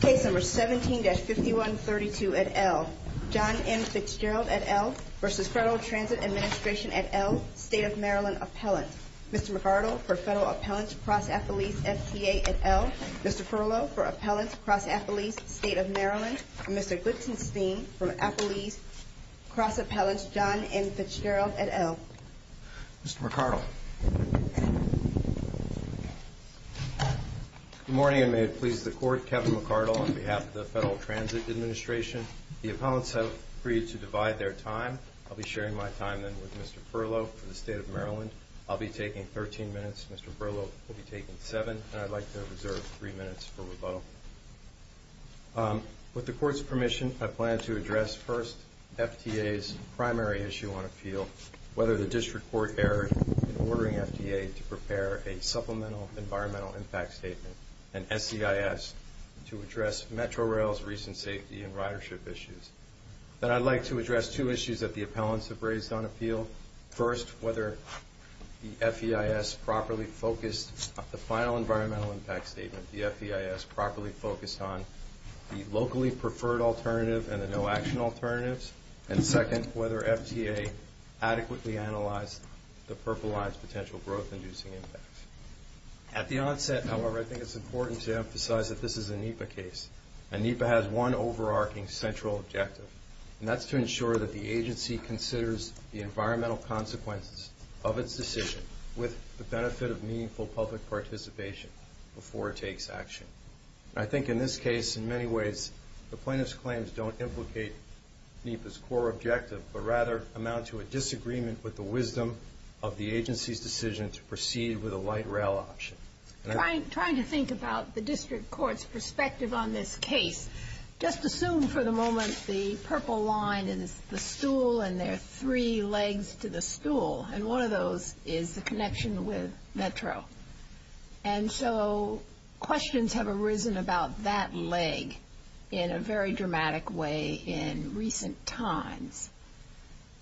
Case No. 17-5132 at L. John M. Fitzgerald at L. v. Federal Transit Administration at L. State of Maryland Appellant. Mr. McArdle for Federal Appellants Cross-Appellees FTA at L. Mr. Perlow for Appellants Cross-Appellees State of Maryland. Mr. Glitzenstein for Appellees Cross-Appellants John M. Fitzgerald at L. Mr. McArdle. Good morning, and may it please the Court, Kevin McArdle on behalf of the Federal Transit Administration. The appellants have agreed to divide their time. I'll be sharing my time then with Mr. Perlow for the State of Maryland. I'll be taking 13 minutes, Mr. Perlow will be taking 7, and I'd like to reserve 3 minutes for rebuttal. With the Court's permission, I plan to address first FTA's primary issue on appeal, whether the District Court erred in ordering FTA to prepare a Supplemental Environmental Impact Statement, an SEIS, to address Metrorail's recent safety and ridership issues. Then I'd like to address two issues that the appellants have raised on appeal. First, whether the FEIS properly focused on the final Environmental Impact Statement, the FEIS properly focused on the locally preferred alternative and the no-action alternatives. And second, whether FTA adequately analyzed the percolized potential growth-inducing impacts. At the onset, however, I think it's important to emphasize that this is a NEPA case, and NEPA has one overarching central objective, and that's to ensure that the agency considers the environmental consequences of its decision with the benefit of meaningful public participation before it takes action. I think in this case, in many ways, the plaintiff's claims don't implicate NEPA's core objective, but rather amount to a disagreement with the wisdom of the agency's decision to proceed with a light rail option. Trying to think about the District Court's perspective on this case, just assume for the moment the purple line is the stool and there are three legs to the stool, and one of those is the connection with Metro. And so questions have arisen about that leg in a very dramatic way in recent times.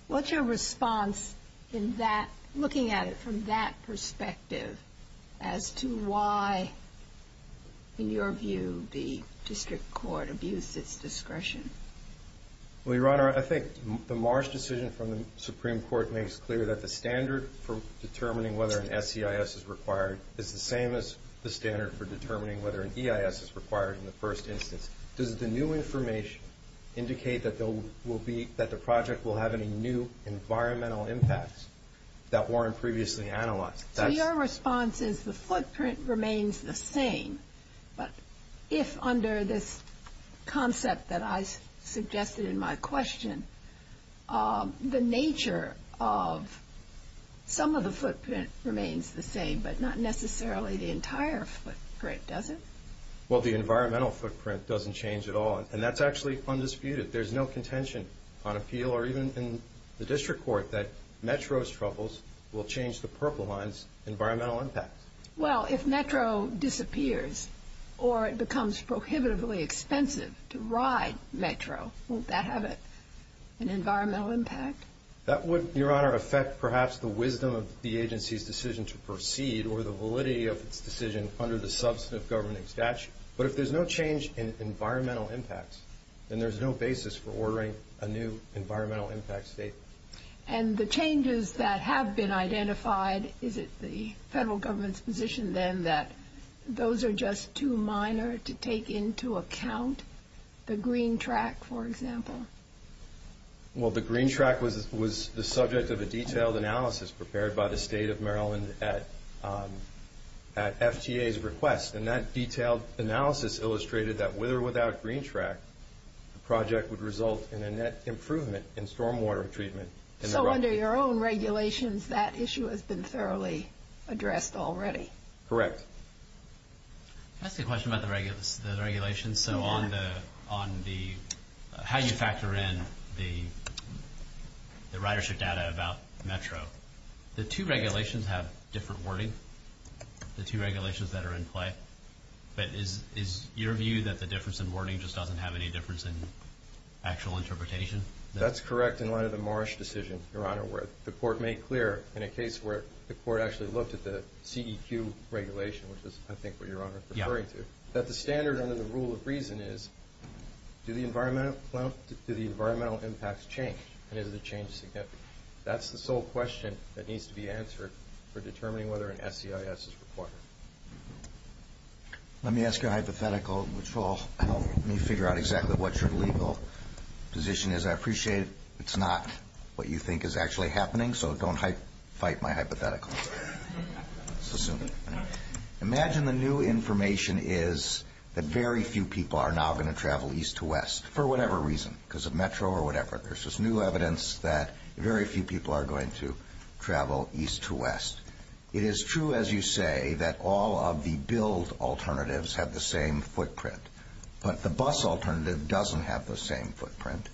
What's your response in that, looking at it from that perspective, as to why, in your view, the District Court abused its discretion? Well, Your Honor, I think the Marsh decision from the Supreme Court makes clear that the standard for determining whether an SEIS is required is the same as the standard for determining whether an EIS is required in the first instance. Does the new information indicate that the project will have any new environmental impacts that weren't previously analyzed? Your response is the footprint remains the same, but if under this concept that I suggested in my question, the nature of some of the footprint remains the same, but not necessarily the entire footprint, does it? Well, the environmental footprint doesn't change at all, and that's actually undisputed. There's no contention on appeal or even in the District Court that Metro's troubles will change the purple line's environmental impacts. Well, if Metro disappears or it becomes prohibitively expensive to ride Metro, won't that have an environmental impact? That would, Your Honor, affect perhaps the wisdom of the agency's decision to proceed or the validity of its decision under the substantive governing statute. But if there's no change in environmental impacts, then there's no basis for ordering a new environmental impact statement. And the changes that have been identified, is it the federal government's position then that those are just too minor to take into account? The green track, for example? Well, the green track was the subject of a detailed analysis prepared by the State of Maryland at FTA's request, and that detailed analysis illustrated that with or without green track, the project would result in a net improvement in stormwater treatment. So under your own regulations, that issue has been thoroughly addressed already? Correct. Can I ask a question about the regulations? Sure. How do you factor in the ridership data about Metro? The two regulations have different wording, the two regulations that are in play. But is your view that the difference in wording just doesn't have any difference in actual interpretation? That's correct in light of the Marsh decision, Your Honor, where the court made clear in a case where the court actually looked at the CEQ regulation, which is, I think, what Your Honor is referring to, that the standard under the rule of reason is, do the environmental impacts change and is the change significant? That's the sole question that needs to be answered for determining whether an SEIS is required. Let me ask you a hypothetical, which will help me figure out exactly what your legal position is. I appreciate it's not what you think is actually happening, so don't fight my hypothetical. Let's assume it. Imagine the new information is that very few people are now going to travel east to west, for whatever reason, because of Metro or whatever. There's this new evidence that very few people are going to travel east to west. It is true, as you say, that all of the build alternatives have the same footprint, but the bus alternative doesn't have the same footprint.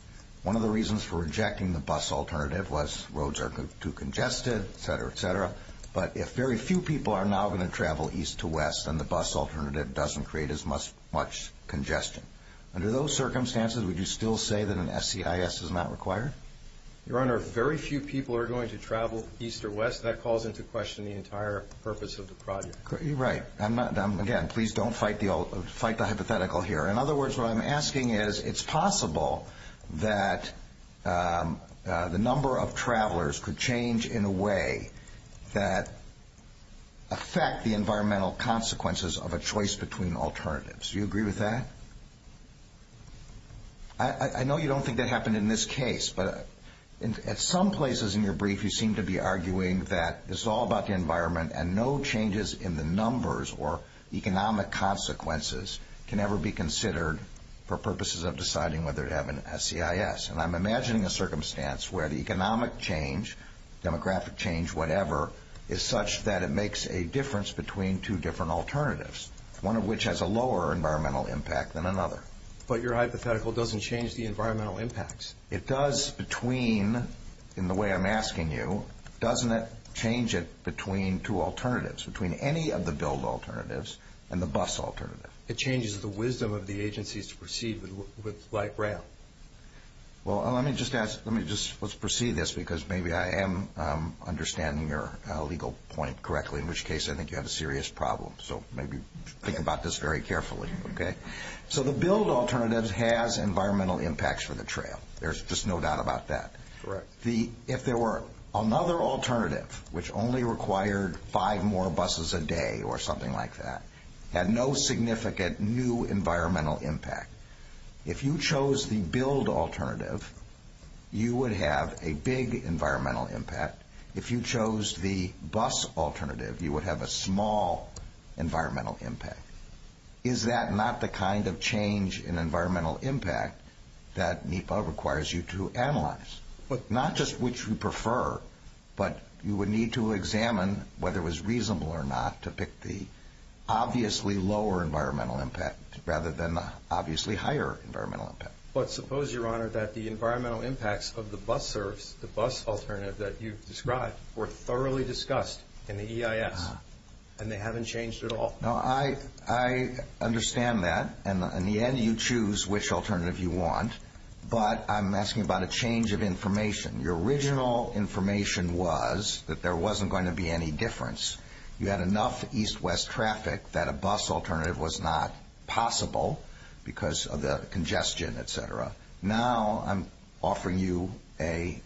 One of the reasons for rejecting the bus alternative was roads are too congested, et cetera, et cetera. But if very few people are now going to travel east to west, then the bus alternative doesn't create as much congestion. Under those circumstances, would you still say that an SEIS is not required? Your Honor, very few people are going to travel east or west. That calls into question the entire purpose of the project. Right. Again, please don't fight the hypothetical here. In other words, what I'm asking is it's possible that the number of travelers could change in a way that affect the environmental consequences of a choice between alternatives. Do you agree with that? I know you don't think that happened in this case, but at some places in your brief you seem to be arguing that it's all about the environment and no changes in the numbers or economic consequences can ever be considered for purposes of deciding whether to have an SEIS. And I'm imagining a circumstance where the economic change, demographic change, whatever, is such that it makes a difference between two different alternatives, one of which has a lower environmental impact than another. But your hypothetical doesn't change the environmental impacts. It does between, in the way I'm asking you, doesn't it change it between two alternatives, between any of the build alternatives and the bus alternative? It changes the wisdom of the agencies to proceed with light rail. Well, let me just ask, let's proceed this because maybe I am understanding your legal point correctly, in which case I think you have a serious problem. So maybe think about this very carefully, okay? So the build alternative has environmental impacts for the trail. There's just no doubt about that. Correct. If there were another alternative which only required five more buses a day or something like that, had no significant new environmental impact, if you chose the build alternative, you would have a big environmental impact. If you chose the bus alternative, you would have a small environmental impact. Is that not the kind of change in environmental impact that NEPA requires you to analyze? Not just which you prefer, but you would need to examine whether it was reasonable or not to pick the obviously lower environmental impact rather than the obviously higher environmental impact. But suppose, Your Honor, that the environmental impacts of the bus service, the bus alternative that you've described, were thoroughly discussed in the EIS and they haven't changed at all. No, I understand that, and in the end you choose which alternative you want, but I'm asking about a change of information. Your original information was that there wasn't going to be any difference. You had enough east-west traffic that a bus alternative was not possible because of the congestion, et cetera. Now I'm offering you a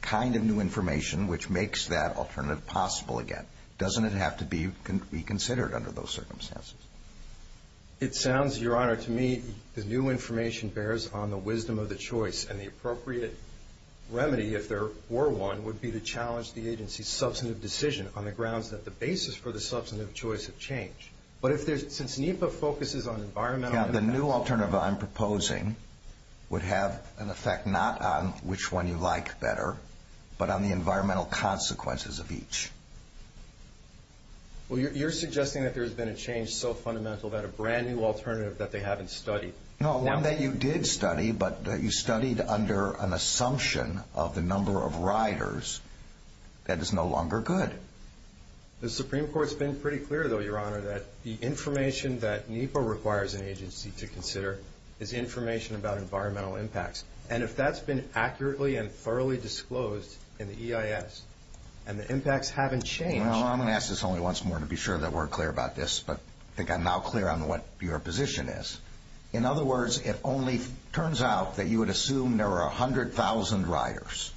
kind of new information which makes that alternative possible again. Doesn't it have to be reconsidered under those circumstances? It sounds, Your Honor, to me, the new information bears on the wisdom of the choice and the appropriate remedy, if there were one, would be to challenge the agency's substantive decision on the grounds that the basis for the substantive choice of change. But since NEPA focuses on environmental impact... The new alternative I'm proposing would have an effect not on which one you like better but on the environmental consequences of each. Well, you're suggesting that there's been a change so fundamental that a brand-new alternative that they haven't studied. No, one that you did study, but you studied under an assumption of the number of riders that is no longer good. The Supreme Court's been pretty clear, though, Your Honor, that the information that NEPA requires an agency to consider is information about environmental impacts. And if that's been accurately and thoroughly disclosed in the EIS and the impacts haven't changed... Well, I'm going to ask this only once more to be sure that we're clear about this, but I think I'm now clear on what your position is. In other words, it only turns out that you would assume there are 100,000 riders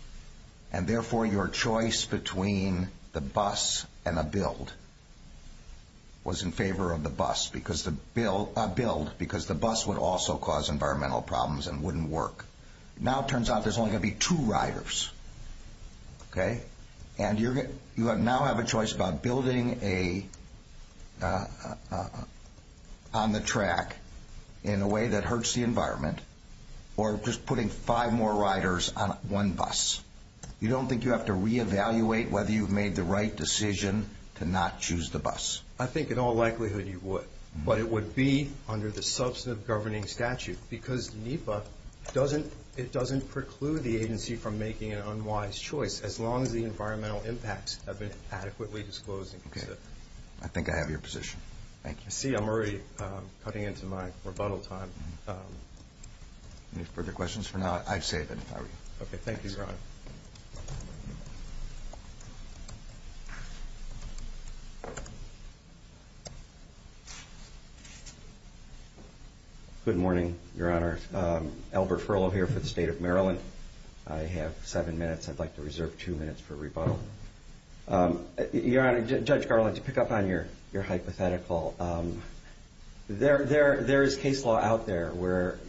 and, therefore, your choice between the bus and a build was in favor of the bus, a build, because the bus would also cause environmental problems and wouldn't work. Now it turns out there's only going to be two riders, okay? And you now have a choice about building on the track in a way that hurts the environment or just putting five more riders on one bus. You don't think you have to reevaluate whether you've made the right decision to not choose the bus? I think in all likelihood you would, but it would be under the substantive governing statute because NEPA doesn't preclude the agency from making an unwise choice as long as the environmental impacts have been adequately disclosed and considered. I see I'm already cutting into my rebuttal time. Any further questions for now? I'd save it if I were you. Okay, thank you, Your Honor. Good morning, Your Honor. Albert Furlow here for the State of Maryland. I have seven minutes. I'd like to reserve two minutes for rebuttal. Your Honor, Judge Garland, to pick up on your hypothetical, there is case law out there where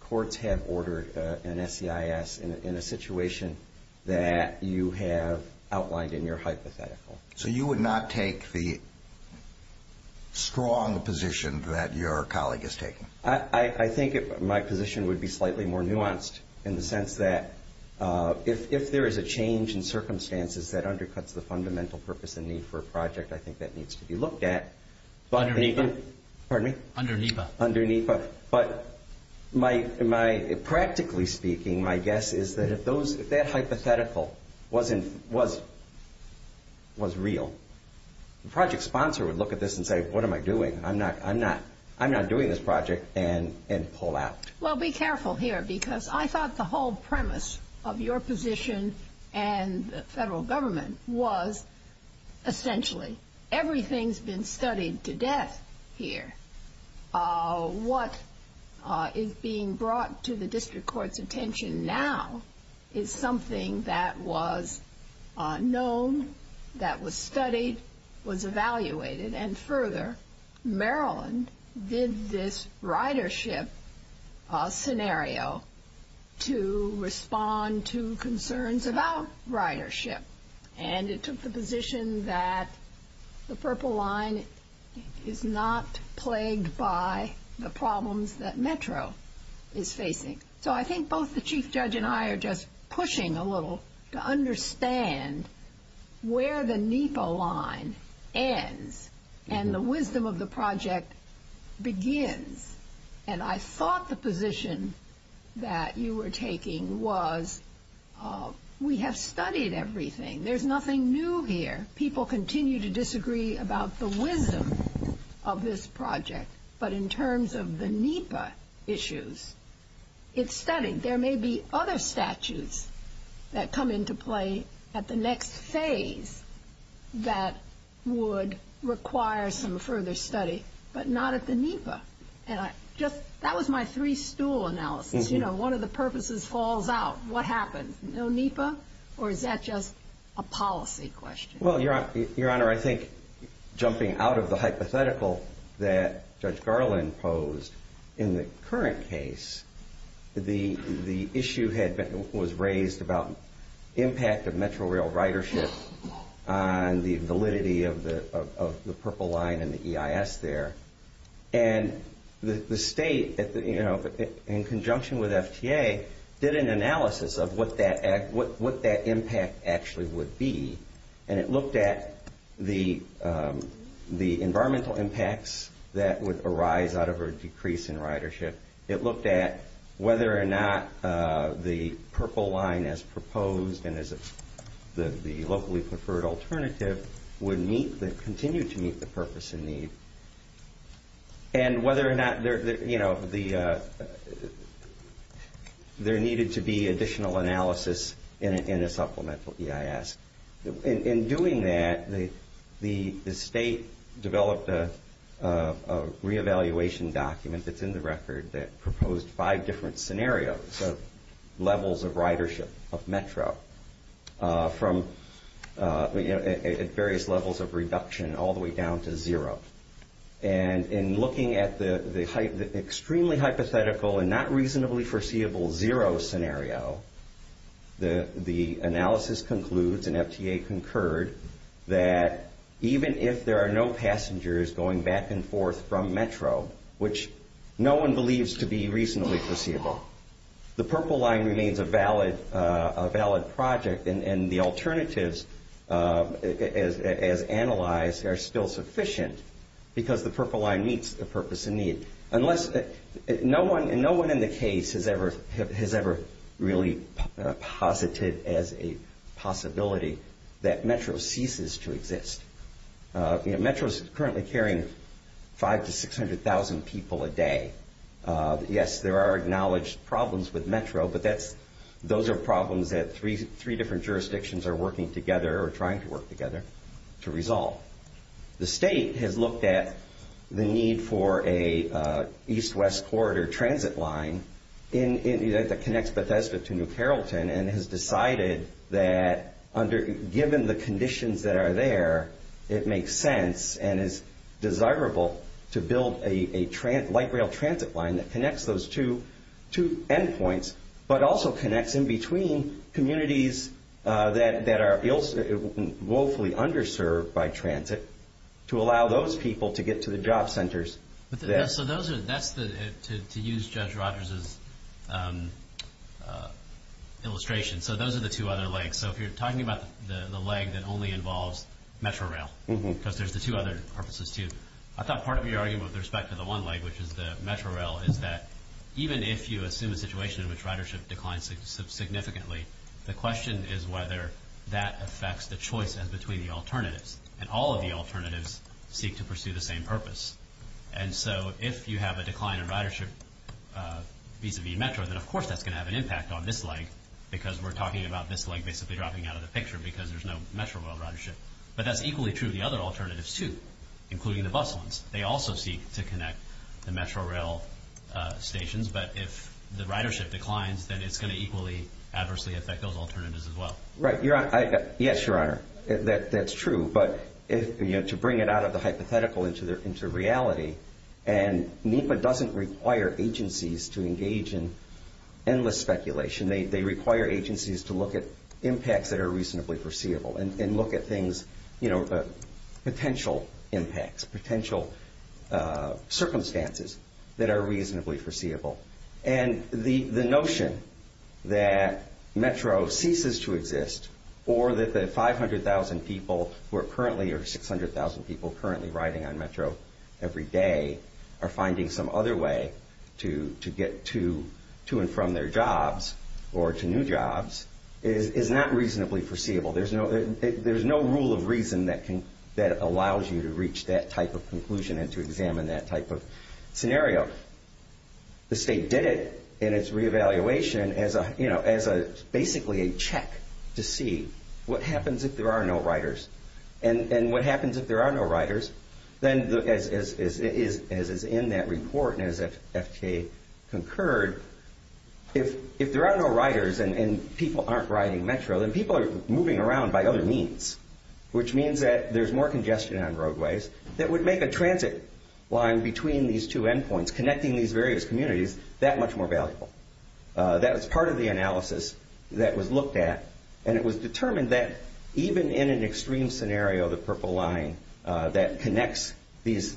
courts have ordered an SEIS in a situation that you have outlined in your hypothetical. So you would not take the strong position that your colleague is taking? I think my position would be slightly more nuanced in the sense that if there is a change in circumstances that undercuts the fundamental purpose and need for a project, I think that needs to be looked at. Under NEPA? Pardon me? Under NEPA. Under NEPA. But practically speaking, my guess is that if that hypothetical was real, the project sponsor would look at this and say, what am I doing, I'm not doing this project, and pull out. Well, be careful here because I thought the whole premise of your position and the federal government was essentially everything's been studied to death here. What is being brought to the district court's attention now is something that was known, that was studied, was evaluated, and further, Maryland did this ridership scenario to respond to concerns about ridership. And it took the position that the Purple Line is not plagued by the problems that Metro is facing. So I think both the Chief Judge and I are just pushing a little to understand where the NEPA line ends and the wisdom of the project begins. And I thought the position that you were taking was we have studied everything. There's nothing new here. People continue to disagree about the wisdom of this project, but in terms of the NEPA issues, it's studied. There may be other statutes that come into play at the next phase that would require some further study, but not at the NEPA. That was my three-stool analysis. You know, one of the purposes falls out. What happened? No NEPA? Or is that just a policy question? Well, Your Honor, I think jumping out of the hypothetical that Judge Garland posed, in the current case, the issue was raised about impact of Metro Rail ridership on the validity of the Purple Line and the EIS there. And the state, in conjunction with FTA, did an analysis of what that impact actually would be, and it looked at the environmental impacts that would arise out of a decrease in ridership. It looked at whether or not the Purple Line as proposed and as the locally preferred alternative would continue to meet the purpose and need, and whether or not there needed to be additional analysis in a supplemental EIS. In doing that, the state developed a re-evaluation document that's in the record that proposed five different scenarios of levels of ridership of Metro at various levels of reduction all the way down to zero. And in looking at the extremely hypothetical and not reasonably foreseeable zero scenario, the analysis concludes and FTA concurred that even if there are no passengers going back and forth from Metro, which no one believes to be reasonably foreseeable, the Purple Line remains a valid project and the alternatives as analyzed are still sufficient because the Purple Line meets the purpose and need. And no one in the case has ever really posited as a possibility that Metro ceases to exist. Metro's currently carrying five to six hundred thousand people a day. Yes, there are acknowledged problems with Metro, but those are problems that three different jurisdictions are working together or trying to work together to resolve. The state has looked at the need for an east-west corridor transit line that connects Bethesda to New Carrollton and has decided that given the conditions that are there, it makes sense and is desirable to build a light rail transit line that connects those two endpoints, but also connects in between communities that are woefully underserved by transit to allow those people to get to the job centers. So that's to use Judge Rogers' illustration. So those are the two other legs. So if you're talking about the leg that only involves Metro Rail, because there's the two other purposes too. I thought part of your argument with respect to the one leg, which is the Metro Rail, is that even if you assume a situation in which ridership declines significantly, the question is whether that affects the choice in between the alternatives. And all of the alternatives seek to pursue the same purpose. And so if you have a decline in ridership vis-à-vis Metro, then of course that's going to have an impact on this leg, because we're talking about this leg basically dropping out of the picture because there's no Metro Rail ridership. But that's equally true of the other alternatives too, including the bus ones. They also seek to connect the Metro Rail stations. But if the ridership declines, then it's going to equally adversely affect those alternatives as well. Right. Yes, Your Honor, that's true. But to bring it out of the hypothetical into reality, and NEPA doesn't require agencies to engage in endless speculation. They require agencies to look at impacts that are reasonably foreseeable and look at things, you know, potential impacts, potential circumstances that are reasonably foreseeable. And the notion that Metro ceases to exist or that the 500,000 people who are currently or 600,000 people currently riding on Metro every day are finding some other way to get to and from their jobs or to new jobs is not reasonably foreseeable. There's no rule of reason that allows you to reach that type of conclusion and to examine that type of scenario. The state did it in its reevaluation as basically a check to see what happens if there are no riders. And what happens if there are no riders, then as is in that report and as FTA concurred, if there are no riders and people aren't riding Metro, then people are moving around by other means, which means that there's more congestion on roadways that would make a transit line between these two endpoints, connecting these various communities, that much more valuable. That was part of the analysis that was looked at, and it was determined that even in an extreme scenario, the Purple Line that connects these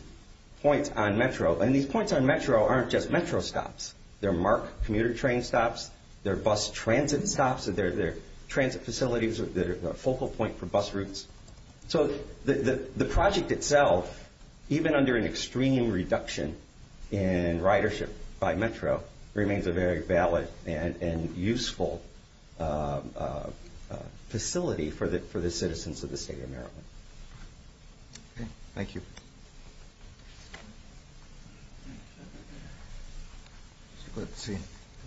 points on Metro, and these points on Metro aren't just Metro stops. They're MARC commuter train stops. They're bus transit stops. They're transit facilities that are a focal point for bus routes. So the project itself, even under an extreme reduction in ridership by Metro, remains a very valid and useful facility for the citizens of the state of Maryland. Okay. Thank you. Good to see you.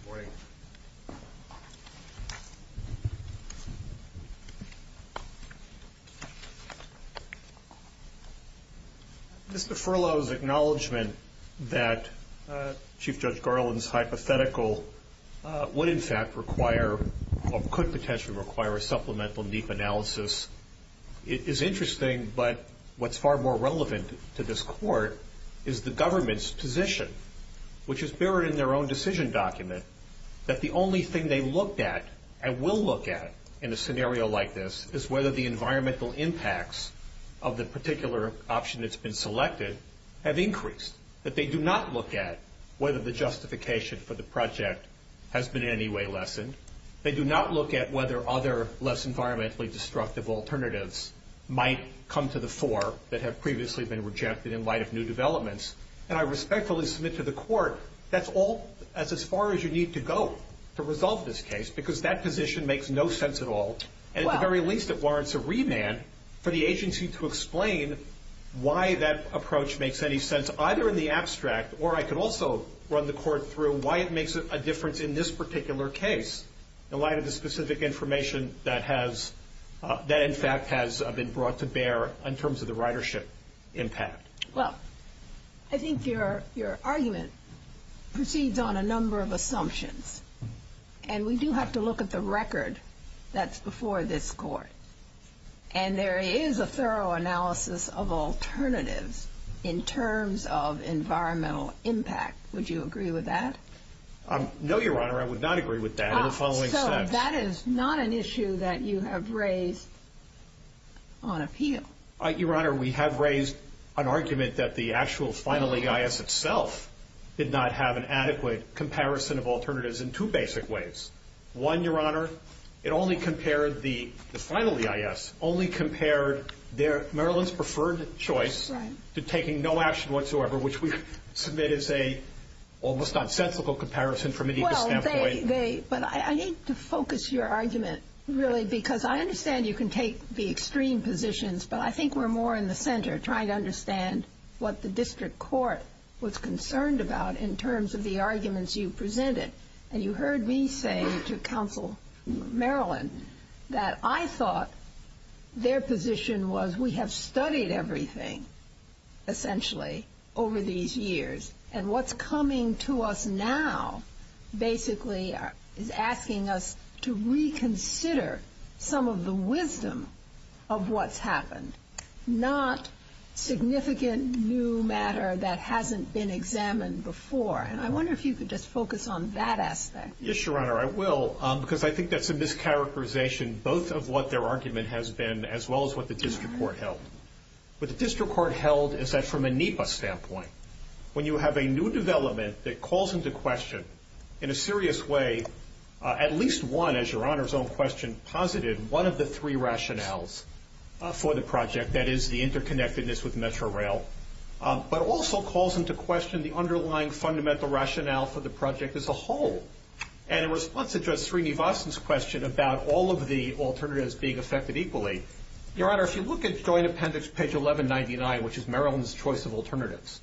Good morning. Mr. Furlow's acknowledgement that Chief Judge Garland's hypothetical would in fact require or could potentially require a supplemental deep analysis is interesting, but what's far more relevant to this court is the government's position, which is buried in their own decision document, that the only thing they looked at and will look at in a scenario like this is whether the environmental impacts of the particular option that's been selected have increased, that they do not look at whether the justification for the project has been in any way lessened. They do not look at whether other less environmentally destructive alternatives might come to the fore that have previously been rejected in light of new developments. And I respectfully submit to the court that's all as far as you need to go to resolve this case because that position makes no sense at all, and at the very least it warrants a remand for the agency to explain why that approach makes any sense either in the abstract, or I could also run the court through why it makes a difference in this particular case in light of the specific information that in fact has been brought to bear in terms of the ridership impact. Well, I think your argument proceeds on a number of assumptions, and we do have to look at the record that's before this court. And there is a thorough analysis of alternatives in terms of environmental impact. Would you agree with that? No, Your Honor, I would not agree with that. So that is not an issue that you have raised on appeal. Your Honor, we have raised an argument that the actual final EIS itself did not have an adequate comparison of alternatives in two basic ways. One, Your Honor, it only compared the final EIS, only compared Maryland's preferred choice to taking no action whatsoever, which we've submitted as an almost nonsensical comparison from any standpoint. Well, but I need to focus your argument, really, because I understand you can take the extreme positions, but I think we're more in the center trying to understand what the district court was concerned about in terms of the arguments you presented. And you heard me say to Counsel Maryland that I thought their position was we have studied everything, essentially, over these years, and what's coming to us now basically is asking us to reconsider some of the wisdom of what's happened, not significant new matter that hasn't been examined before. And I wonder if you could just focus on that aspect. Yes, Your Honor, I will, because I think that's a mischaracterization, both of what their argument has been as well as what the district court held. What the district court held is that from a NEPA standpoint, when you have a new development that calls into question in a serious way at least one, as Your Honor's own question posited, one of the three rationales for the project, that is the interconnectedness with Metrorail, but also calls into question the underlying fundamental rationale for the project as a whole. And in response to Judge Srinivasan's question about all of the alternatives being affected equally, Your Honor, if you look at joint appendix page 1199, which is Maryland's choice of alternatives,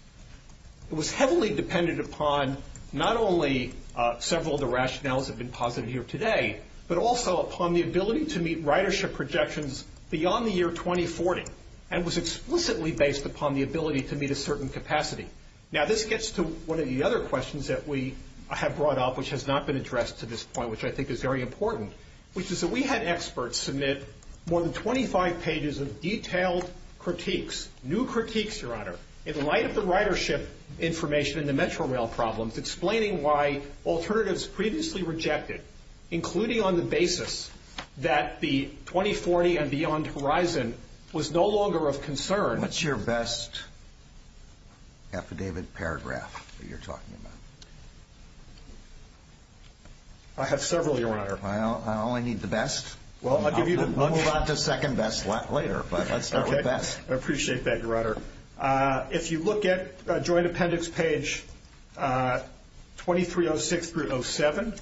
it was heavily dependent upon not only several of the rationales that have been posited here today, but also upon the ability to meet ridership projections beyond the year 2040, and was explicitly based upon the ability to meet a certain capacity. Now, this gets to one of the other questions that we have brought up, which has not been addressed to this point, which I think is very important, which is that we had experts submit more than 25 pages of detailed critiques, new critiques, Your Honor, in light of the ridership information in the Metrorail problems, explaining why alternatives previously rejected, including on the basis that the 2040 and beyond horizon was no longer of concern. What's your best affidavit paragraph that you're talking about? I have several, Your Honor. I only need the best. Well, I'll give you the best. I'll move on to second best later, but let's start with best. I appreciate that, Your Honor. If you look at Joint Appendix page 2306 through 07,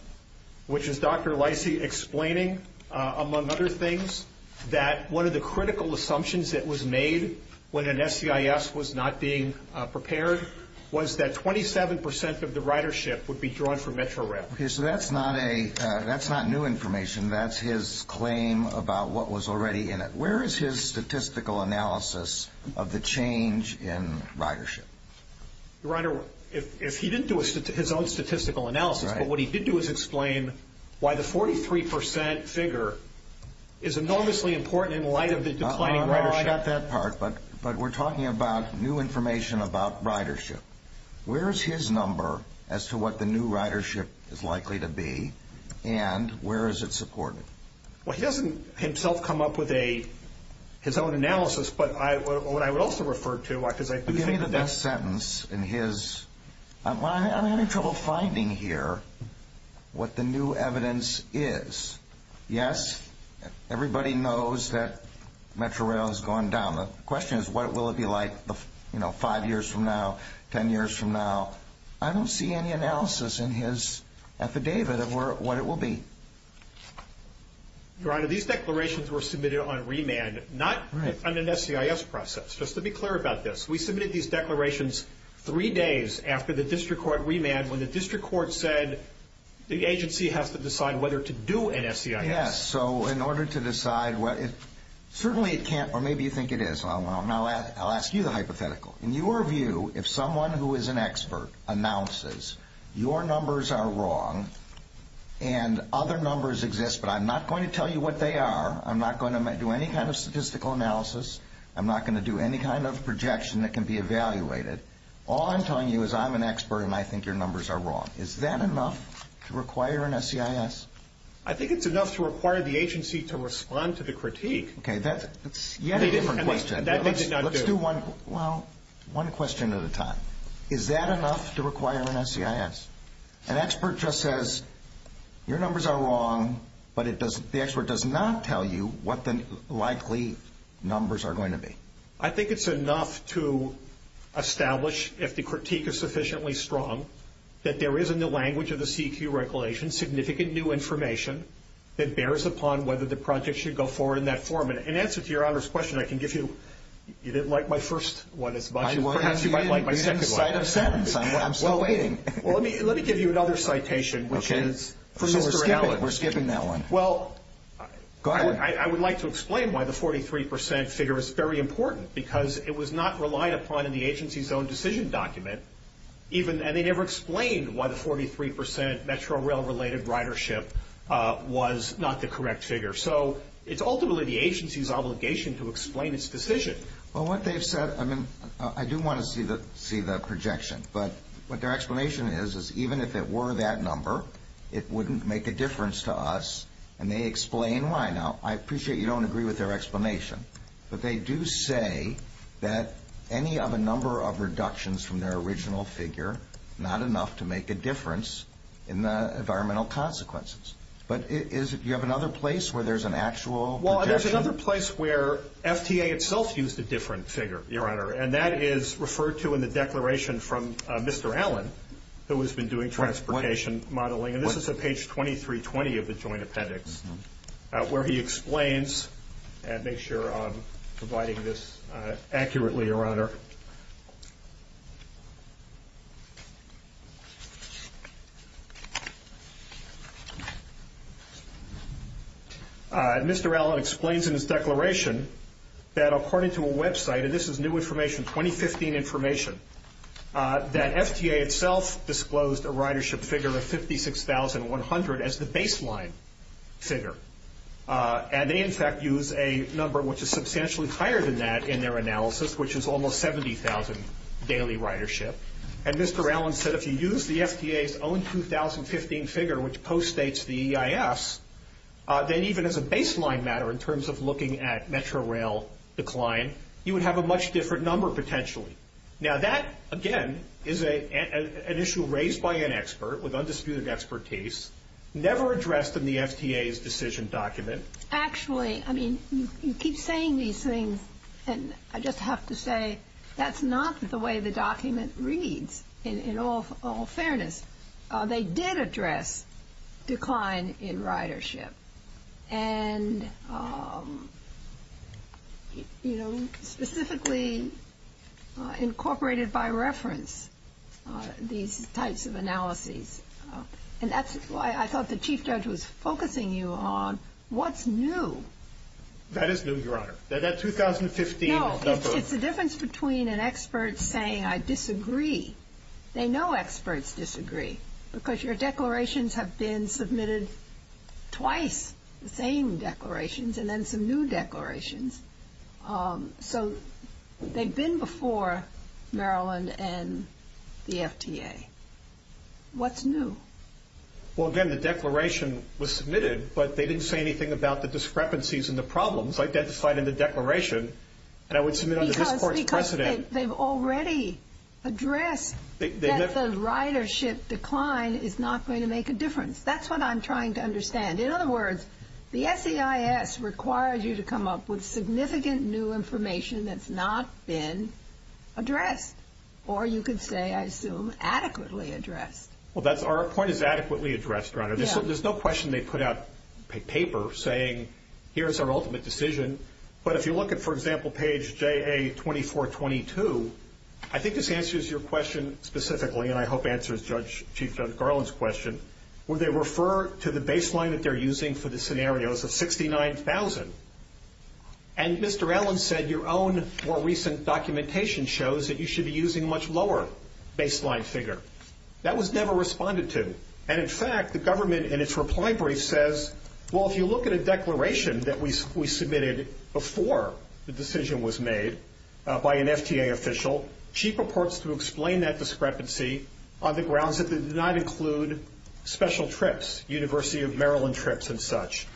which is Dr. Lisey explaining, among other things, that one of the critical assumptions that was made when an SEIS was not being prepared was that 27% of the ridership would be drawn from Metrorail. Okay, so that's not new information. That's his claim about what was already in it. Where is his statistical analysis of the change in ridership? Your Honor, if he didn't do his own statistical analysis, but what he did do is explain why the 43% figure is enormously important in light of the declining ridership. I got that part, but we're talking about new information about ridership. Where is his number as to what the new ridership is likely to be, and where is it supported? Well, he doesn't himself come up with his own analysis, but what I would also refer to, because I do think that... Give me the best sentence in his... I'm having trouble finding here what the new evidence is. Yes, everybody knows that Metrorail has gone down. The question is, what will it be like five years from now, ten years from now? I don't see any analysis in his affidavit of what it will be. Your Honor, these declarations were submitted on remand, not on an SEIS process. Just to be clear about this, we submitted these declarations three days after the district court remand, when the district court said the agency has to decide whether to do an SEIS. Yes, so in order to decide what it... Certainly it can't, or maybe you think it is. I'll ask you the hypothetical. In your view, if someone who is an expert announces your numbers are wrong and other numbers exist, but I'm not going to tell you what they are, I'm not going to do any kind of statistical analysis, I'm not going to do any kind of projection that can be evaluated, all I'm telling you is I'm an expert and I think your numbers are wrong. Is that enough to require an SEIS? I think it's enough to require the agency to respond to the critique. Okay, that's yet a different question. That they did not do. Let's do one question at a time. Is that enough to require an SEIS? An expert just says your numbers are wrong, but the expert does not tell you what the likely numbers are going to be. I think it's enough to establish, if the critique is sufficiently strong, that there is in the language of the CEQ regulation significant new information that bears upon whether the project should go forward in that form. In answer to Your Honor's question, I can give you... You didn't like my first one as much. Perhaps you might like my second one. I'm still waiting. Let me give you another citation, which is... We're skipping that one. I would like to explain why the 43% figure is very important, because it was not relied upon in the agency's own decision document, and they never explained why the 43% Metro Rail-related ridership was not the correct figure. So it's ultimately the agency's obligation to explain its decision. Well, what they've said... I mean, I do want to see the projection, but what their explanation is is even if it were that number, it wouldn't make a difference to us, and they explain why. Now, I appreciate you don't agree with their explanation, but they do say that any of a number of reductions from their original figure, not enough to make a difference in the environmental consequences. But you have another place where there's an actual projection? Well, there's another place where FTA itself used a different figure, Your Honor, and that is referred to in the declaration from Mr. Allen, who has been doing transportation modeling. And this is at page 2320 of the Joint Appendix, where he explains and makes sure I'm providing this accurately, Your Honor. All right. Mr. Allen explains in his declaration that according to a website, and this is new information, 2015 information, that FTA itself disclosed a ridership figure of 56,100 as the baseline figure. And they, in fact, use a number which is substantially higher than that in their analysis, which is almost 70,000 daily ridership. And Mr. Allen said if you use the FTA's own 2015 figure, which post-states the EIS, then even as a baseline matter in terms of looking at metro rail decline, you would have a much different number potentially. Now, that, again, is an issue raised by an expert with undisputed expertise, never addressed in the FTA's decision document. Actually, I mean, you keep saying these things, and I just have to say that's not the way the document reads, in all fairness. They did address decline in ridership and, you know, specifically incorporated by reference these types of analyses. And that's why I thought the chief judge was focusing you on what's new. That is new, Your Honor. That 2015 number. No, it's the difference between an expert saying I disagree. They know experts disagree because your declarations have been submitted twice, the same declarations, and then some new declarations. So they've been before Maryland and the FTA. What's new? Well, again, the declaration was submitted, but they didn't say anything about the discrepancies and the problems identified in the declaration that I would submit under this Court's precedent. Because they've already addressed that the ridership decline is not going to make a difference. That's what I'm trying to understand. In other words, the SEIS requires you to come up with significant new information that's not been addressed. Or you could say, I assume, adequately addressed. Well, our point is adequately addressed, Your Honor. There's no question they put out paper saying here's our ultimate decision. But if you look at, for example, page JA-2422, I think this answers your question specifically, and I hope answers Chief Judge Garland's question, where they refer to the baseline that they're using for the scenarios of 69,000. And Mr. Allen said your own more recent documentation shows that you should be using a much lower baseline figure. That was never responded to. And, in fact, the government in its reply brief says, well, if you look at a declaration that we submitted before the decision was made by an FTA official, Chief purports to explain that discrepancy on the grounds that it did not include special trips, University of Maryland trips and such.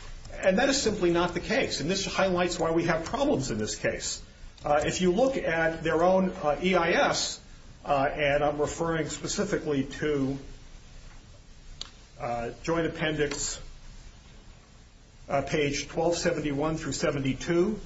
And that is simply not the case. And this highlights why we have problems in this case. If you look at their own EIS, and I'm referring specifically to Joint Appendix page 1271 through 72,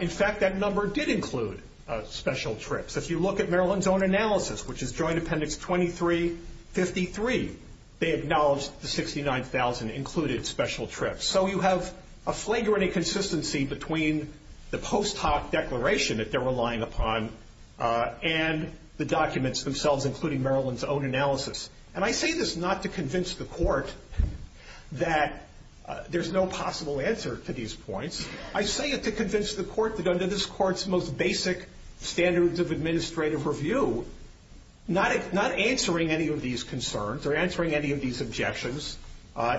in fact, that number did include special trips. If you look at Maryland's own analysis, which is Joint Appendix 2353, they acknowledge the 69,000 included special trips. So you have a flagrant inconsistency between the post hoc declaration that they're relying upon and the documents themselves, including Maryland's own analysis. And I say this not to convince the court that there's no possible answer to these points. I say it to convince the court that under this court's most basic standards of administrative review, not answering any of these concerns or answering any of these objections,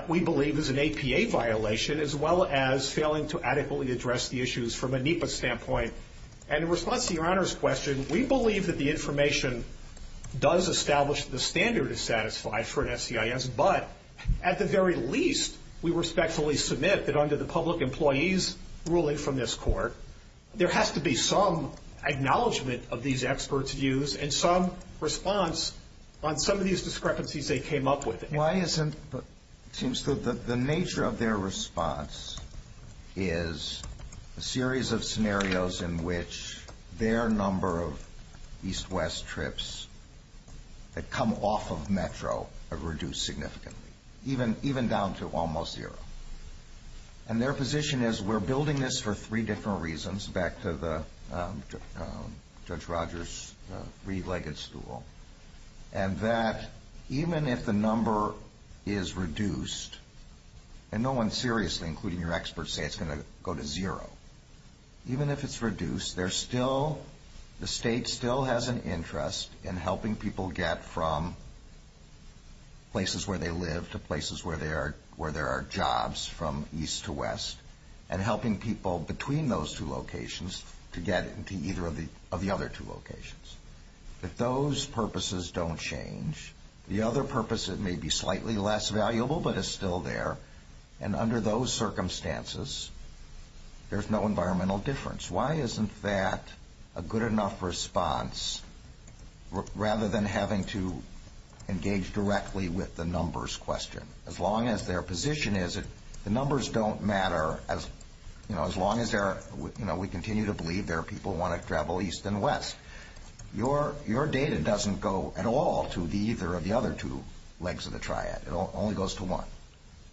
we believe is an APA violation as well as failing to adequately address the issues from a NEPA standpoint. And in response to your Honor's question, we believe that the information does establish that the standard is satisfied for an SEIS. But at the very least, we respectfully submit that under the public employee's ruling from this court, there has to be some acknowledgment of these experts' views and some response on some of these discrepancies they came up with. Why isn't, it seems to, the nature of their response is a series of scenarios in which their number of east-west trips that come off of Metro have reduced significantly, even down to almost zero. And their position is, we're building this for three different reasons, back to Judge Rogers' three-legged stool, and that even if the number is reduced, and no one seriously, including your experts, say it's going to go to zero, even if it's reduced, the state still has an interest in helping people get from places where they live to places where there are jobs from east to west, and helping people between those two locations to get into either of the other two locations. If those purposes don't change, the other purpose, it may be slightly less valuable, but it's still there. And under those circumstances, there's no environmental difference. Why isn't that a good enough response, rather than having to engage directly with the numbers question? As long as their position is that the numbers don't matter, as long as we continue to believe there are people who want to travel east and west, your data doesn't go at all to either of the other two legs of the triad. It only goes to one.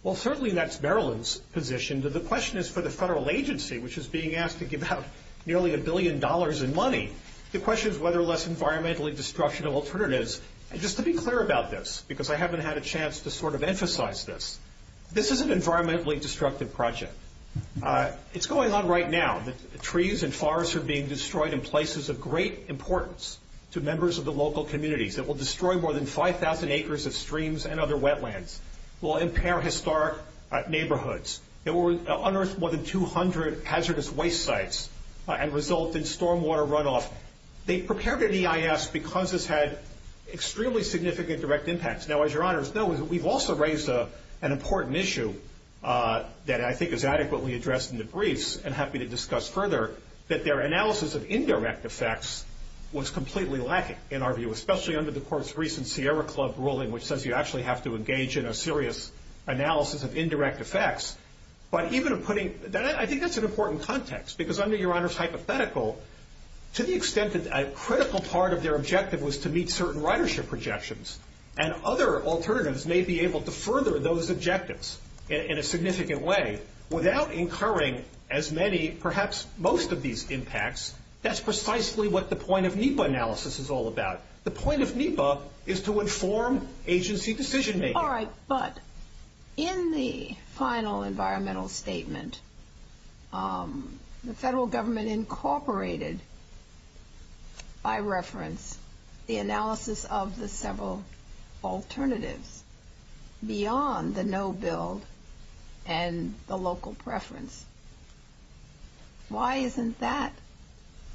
Well, certainly that's Maryland's position. The question is for the federal agency, which is being asked to give out nearly a billion dollars in money. The question is whether or less environmentally destructive alternatives. Just to be clear about this, because I haven't had a chance to sort of emphasize this, this is an environmentally destructive project. It's going on right now. Trees and forests are being destroyed in places of great importance to members of the local communities. It will destroy more than 5,000 acres of streams and other wetlands. It will impair historic neighborhoods. It will unearth more than 200 hazardous waste sites and result in stormwater runoff. They prepared an EIS because this had extremely significant direct impacts. Now, as your honors know, we've also raised an important issue that I think is adequately addressed in the briefs and happy to discuss further, that their analysis of indirect effects was completely lacking in our view, especially under the court's recent Sierra Club ruling, which says you actually have to engage in a serious analysis of indirect effects. But I think that's an important context, because under your honors' hypothetical, to the extent that a critical part of their objective was to meet certain ridership projections, and other alternatives may be able to further those objectives in a significant way without incurring as many, perhaps most of these impacts, that's precisely what the point of NEPA analysis is all about. The point of NEPA is to inform agency decision-making. All right, but in the final environmental statement, the federal government incorporated, by reference, the analysis of the several alternatives beyond the no-build and the local preference. Why isn't that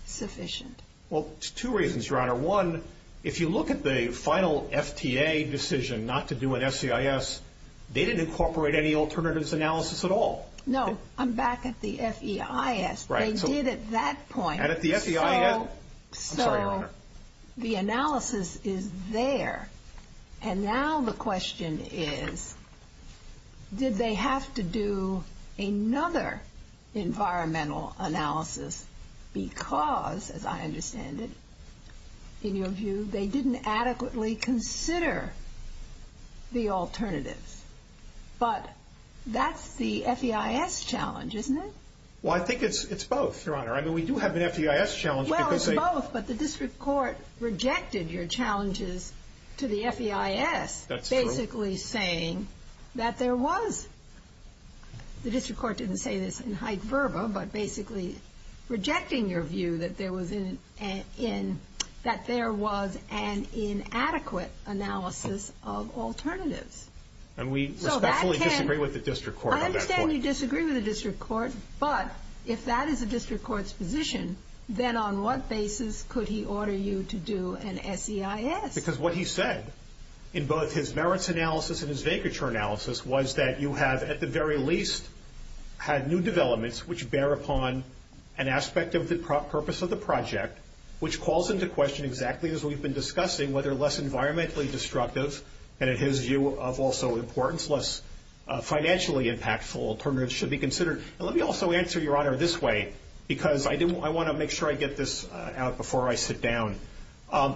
sufficient? Well, there's two reasons, your honor. One, if you look at the final FTA decision not to do an FEIS, they didn't incorporate any alternatives analysis at all. No, I'm back at the FEIS. They did at that point. And at the FEIS, I'm sorry, your honor. So the analysis is there. And now the question is, did they have to do another environmental analysis because, as I understand it, in your view, they didn't adequately consider the alternatives? But that's the FEIS challenge, isn't it? Well, I think it's both, your honor. I mean, we do have the FEIS challenge because they ---- Well, it's both, but the district court rejected your challenges to the FEIS. That's true. Basically saying that there was. The district court didn't say this in height verba, but basically rejecting your view that there was an inadequate analysis of alternatives. And we respectfully disagree with the district court on that point. I understand you disagree with the district court, but if that is the district court's position, then on what basis could he order you to do an SEIS? Because what he said in both his merits analysis and his vacature analysis was that you have at the very least had new developments, which bear upon an aspect of the purpose of the project, which calls into question exactly, as we've been discussing, whether less environmentally destructive, and in his view of also importance, less financially impactful alternatives should be considered. And let me also answer, your honor, this way because I want to make sure I get this out before I sit down.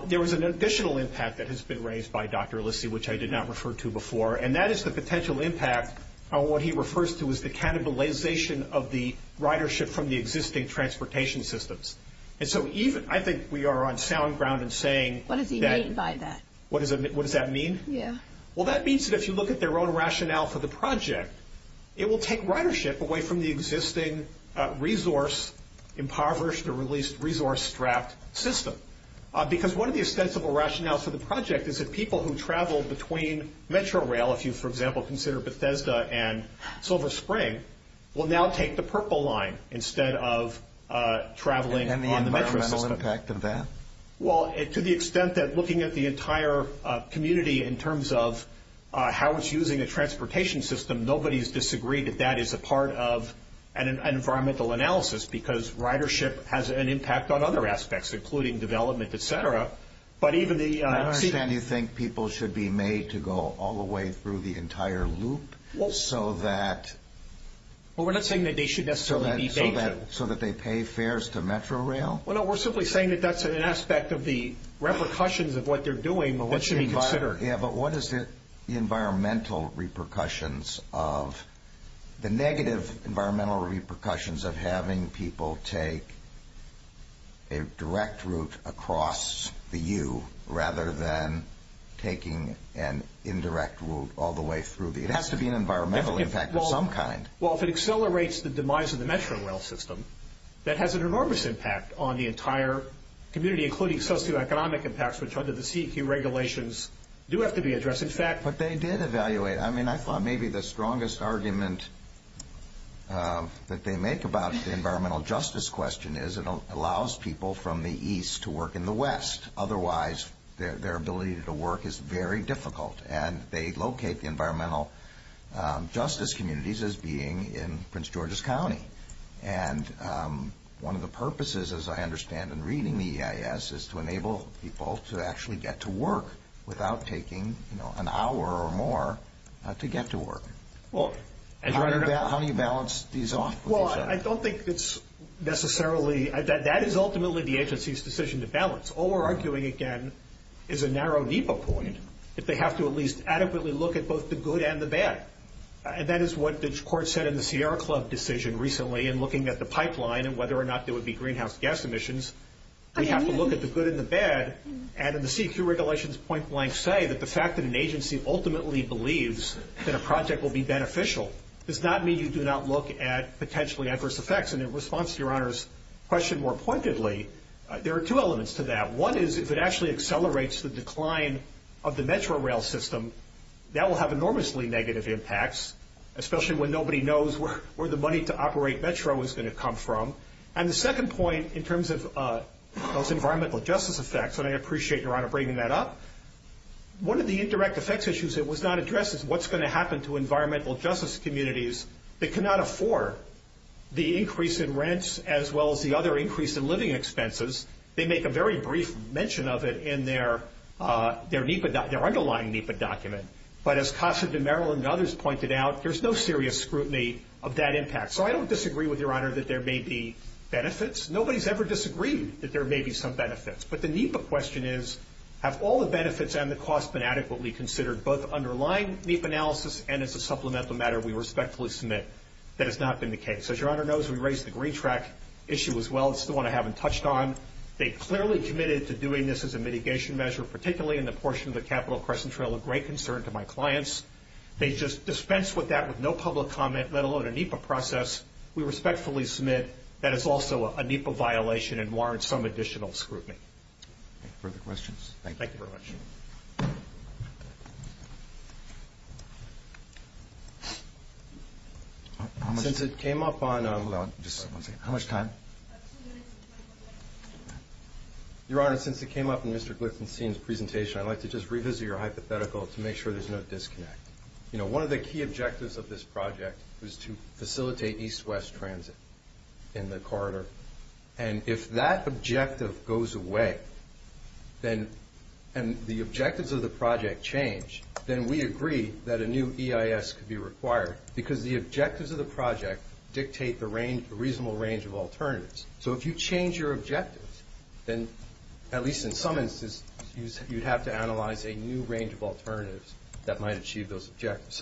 There was an additional impact that has been raised by Dr. Lissy, which I did not refer to before, and that is the potential impact on what he refers to as the cannibalization of the ridership from the existing transportation systems. And so I think we are on sound ground in saying that. What does he mean by that? What does that mean? Yeah. Well, that means that if you look at their own rationale for the project, it will take ridership away from the existing resource impoverished or at least resource strapped system. Because one of the ostensible rationales for the project is that people who travel between metro rail, if you, for example, consider Bethesda and Silver Spring, will now take the purple line instead of traveling on the metro system. And the environmental impact of that? Well, to the extent that looking at the entire community in terms of how it's using a transportation system, nobody's disagreed that that is a part of an environmental analysis because ridership has an impact on other aspects, including development, et cetera. But even the... I understand you think people should be made to go all the way through the entire loop so that... Well, we're not saying that they should necessarily be danger. So that they pay fares to metro rail? Well, no. We're simply saying that that's an aspect of the repercussions of what they're doing that should be considered. Yeah, but what is the environmental repercussions of... The negative environmental repercussions of having people take a direct route across the U rather than taking an indirect route all the way through the... It has to be an environmental impact of some kind. Well, if it accelerates the demise of the metro rail system, that has an enormous impact on the entire community, including socioeconomic impacts, which under the CEQ regulations do have to be addressed. In fact... But they did evaluate. I mean, I thought maybe the strongest argument that they make about the environmental justice question is it allows people from the east to work in the west. Otherwise, their ability to work is very difficult, And one of the purposes, as I understand in reading the EIS, is to enable people to actually get to work without taking an hour or more to get to work. How do you balance these off? Well, I don't think it's necessarily... That is ultimately the agency's decision to balance. All we're arguing, again, is a narrow, deeper point, that they have to at least adequately look at both the good and the bad. And that is what the court said in the Sierra Club decision recently in looking at the pipeline and whether or not there would be greenhouse gas emissions. We have to look at the good and the bad. And in the CEQ regulations, point blank say that the fact that an agency ultimately believes that a project will be beneficial does not mean you do not look at potentially adverse effects. And in response to Your Honor's question more pointedly, there are two elements to that. One is if it actually accelerates the decline of the metro rail system, that will have enormously negative impacts, especially when nobody knows where the money to operate metro is going to come from. And the second point in terms of those environmental justice effects, and I appreciate Your Honor bringing that up, one of the indirect effects issues that was not addressed is what's going to happen to environmental justice communities that cannot afford the increase in rents as well as the other increase in living expenses. They make a very brief mention of it in their underlying NEPA document. But as Casa de Maryland and others pointed out, there's no serious scrutiny of that impact. So I don't disagree with Your Honor that there may be benefits. Nobody's ever disagreed that there may be some benefits. But the NEPA question is have all the benefits and the costs been adequately considered, both underlying NEPA analysis and as a supplemental matter we respectfully submit that has not been the case. As Your Honor knows, we raised the green track issue as well. It's the one I haven't touched on. They clearly committed to doing this as a mitigation measure, particularly in the portion of the Capital Crescent Trail, a great concern to my clients. They just dispensed with that with no public comment, let alone a NEPA process. We respectfully submit that is also a NEPA violation and warrants some additional scrutiny. Further questions? Thank you very much. Since it came up on Mr. Gliffenstein's presentation, I'd like to just revisit your hypothetical to make sure there's no disconnect. One of the key objectives of this project was to facilitate east-west transit in the corridor. And if that objective goes away and the objectives of the project change, then we agree that a new EIS could be required because the objectives of the project dictate the reasonable range of alternatives. So if you change your objectives, then at least in some instances, you'd have to analyze a new range of alternatives that might achieve those objectives.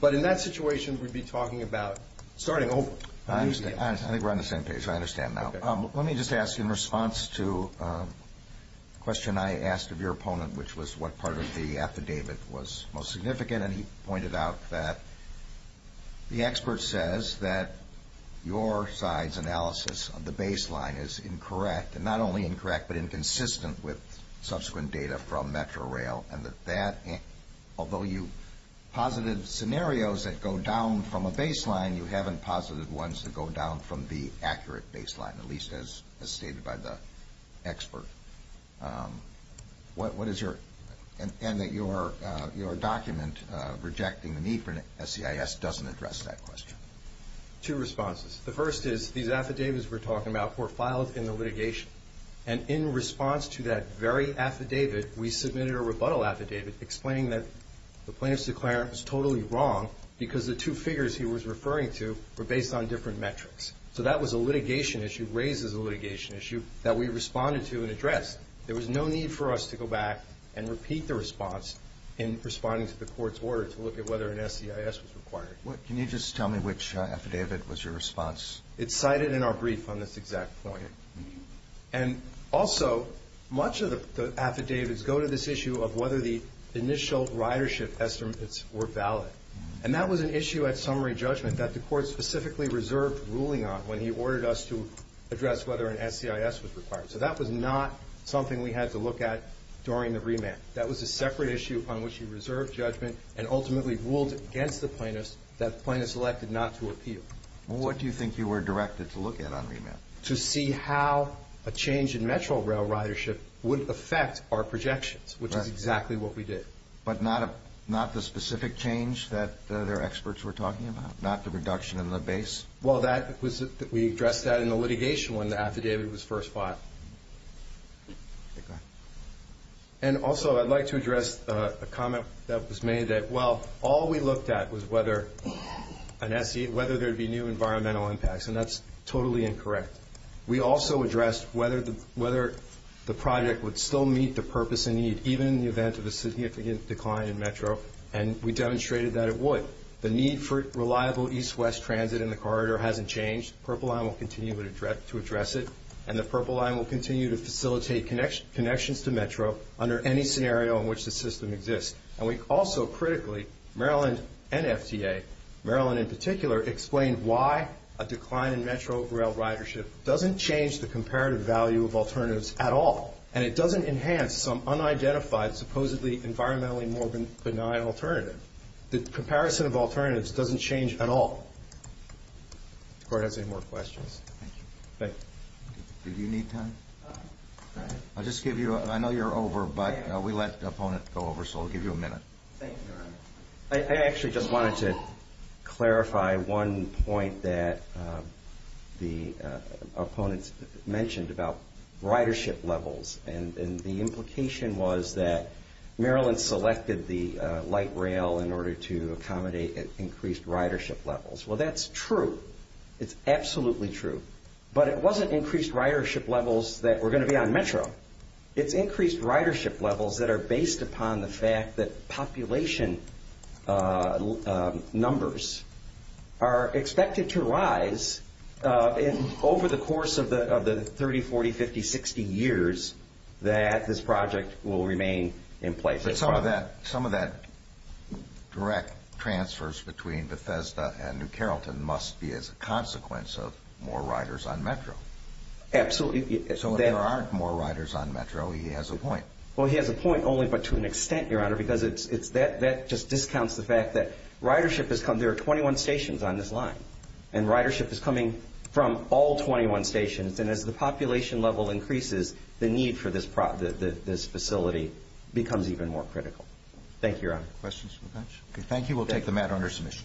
But in that situation, we'd be talking about starting over. I think we're on the same page. I understand now. Let me just ask in response to a question I asked of your opponent, which was what part of the affidavit was most significant. And he pointed out that the expert says that your side's analysis of the baseline is incorrect, and not only incorrect but inconsistent with subsequent data from Metrorail. And that although you posited scenarios that go down from a baseline, you haven't posited ones that go down from the accurate baseline, at least as stated by the expert. And that your document rejecting the need for an SEIS doesn't address that question. Two responses. The first is these affidavits we're talking about were filed in the litigation. And in response to that very affidavit, we submitted a rebuttal affidavit explaining that the plaintiff's declarant was totally wrong because the two figures he was referring to were based on different metrics. So that was a litigation issue, raises a litigation issue, that we responded to and addressed. There was no need for us to go back and repeat the response in responding to the court's order to look at whether an SEIS was required. Can you just tell me which affidavit was your response? It's cited in our brief on this exact point. And also, much of the affidavits go to this issue of whether the initial ridership estimates were valid. And that was an issue at summary judgment that the court specifically reserved ruling on when he ordered us to address whether an SEIS was required. So that was not something we had to look at during the remand. That was a separate issue upon which he reserved judgment and ultimately ruled against the plaintiff that the plaintiff selected not to appeal. What do you think you were directed to look at on remand? To see how a change in metro rail ridership would affect our projections, which is exactly what we did. But not the specific change that their experts were talking about, not the reduction in the base? Well, we addressed that in the litigation when the affidavit was first filed. And also, I'd like to address a comment that was made that, well, all we looked at was whether there would be new environmental impacts, and that's totally incorrect. We also addressed whether the project would still meet the purpose and need, even in the event of a significant decline in metro. And we demonstrated that it would. The need for reliable east-west transit in the corridor hasn't changed. Purple Line will continue to address it. And the Purple Line will continue to facilitate connections to metro under any scenario in which the system exists. And we also critically, Maryland and FTA, Maryland in particular, explained why a decline in metro rail ridership doesn't change the comparative value of alternatives at all. And it doesn't enhance some unidentified, supposedly environmentally more benign alternative. The comparison of alternatives doesn't change at all. If the Court has any more questions. Thank you. Do you need time? I'll just give you a – I know you're over, but we let the opponent go over, so I'll give you a minute. Thank you. I actually just wanted to clarify one point that the opponent mentioned about ridership levels. And the implication was that Maryland selected the light rail in order to accommodate increased ridership levels. Well, that's true. It's absolutely true. But it wasn't increased ridership levels that were going to be on metro. It's increased ridership levels that are based upon the fact that population numbers are expected to rise over the course of the 30, 40, 50, 60 years that this project will remain in place. But some of that direct transfers between Bethesda and New Carrollton must be as a consequence of more riders on metro. Absolutely. So if there aren't more riders on metro, he has a point. Well, he has a point only but to an extent, Your Honor, because that just discounts the fact that ridership has come – there are 21 stations on this line, and ridership is coming from all 21 stations. And as the population level increases, the need for this facility becomes even more critical. Thank you, Your Honor. Questions? Okay, thank you. We'll take the matter under submission.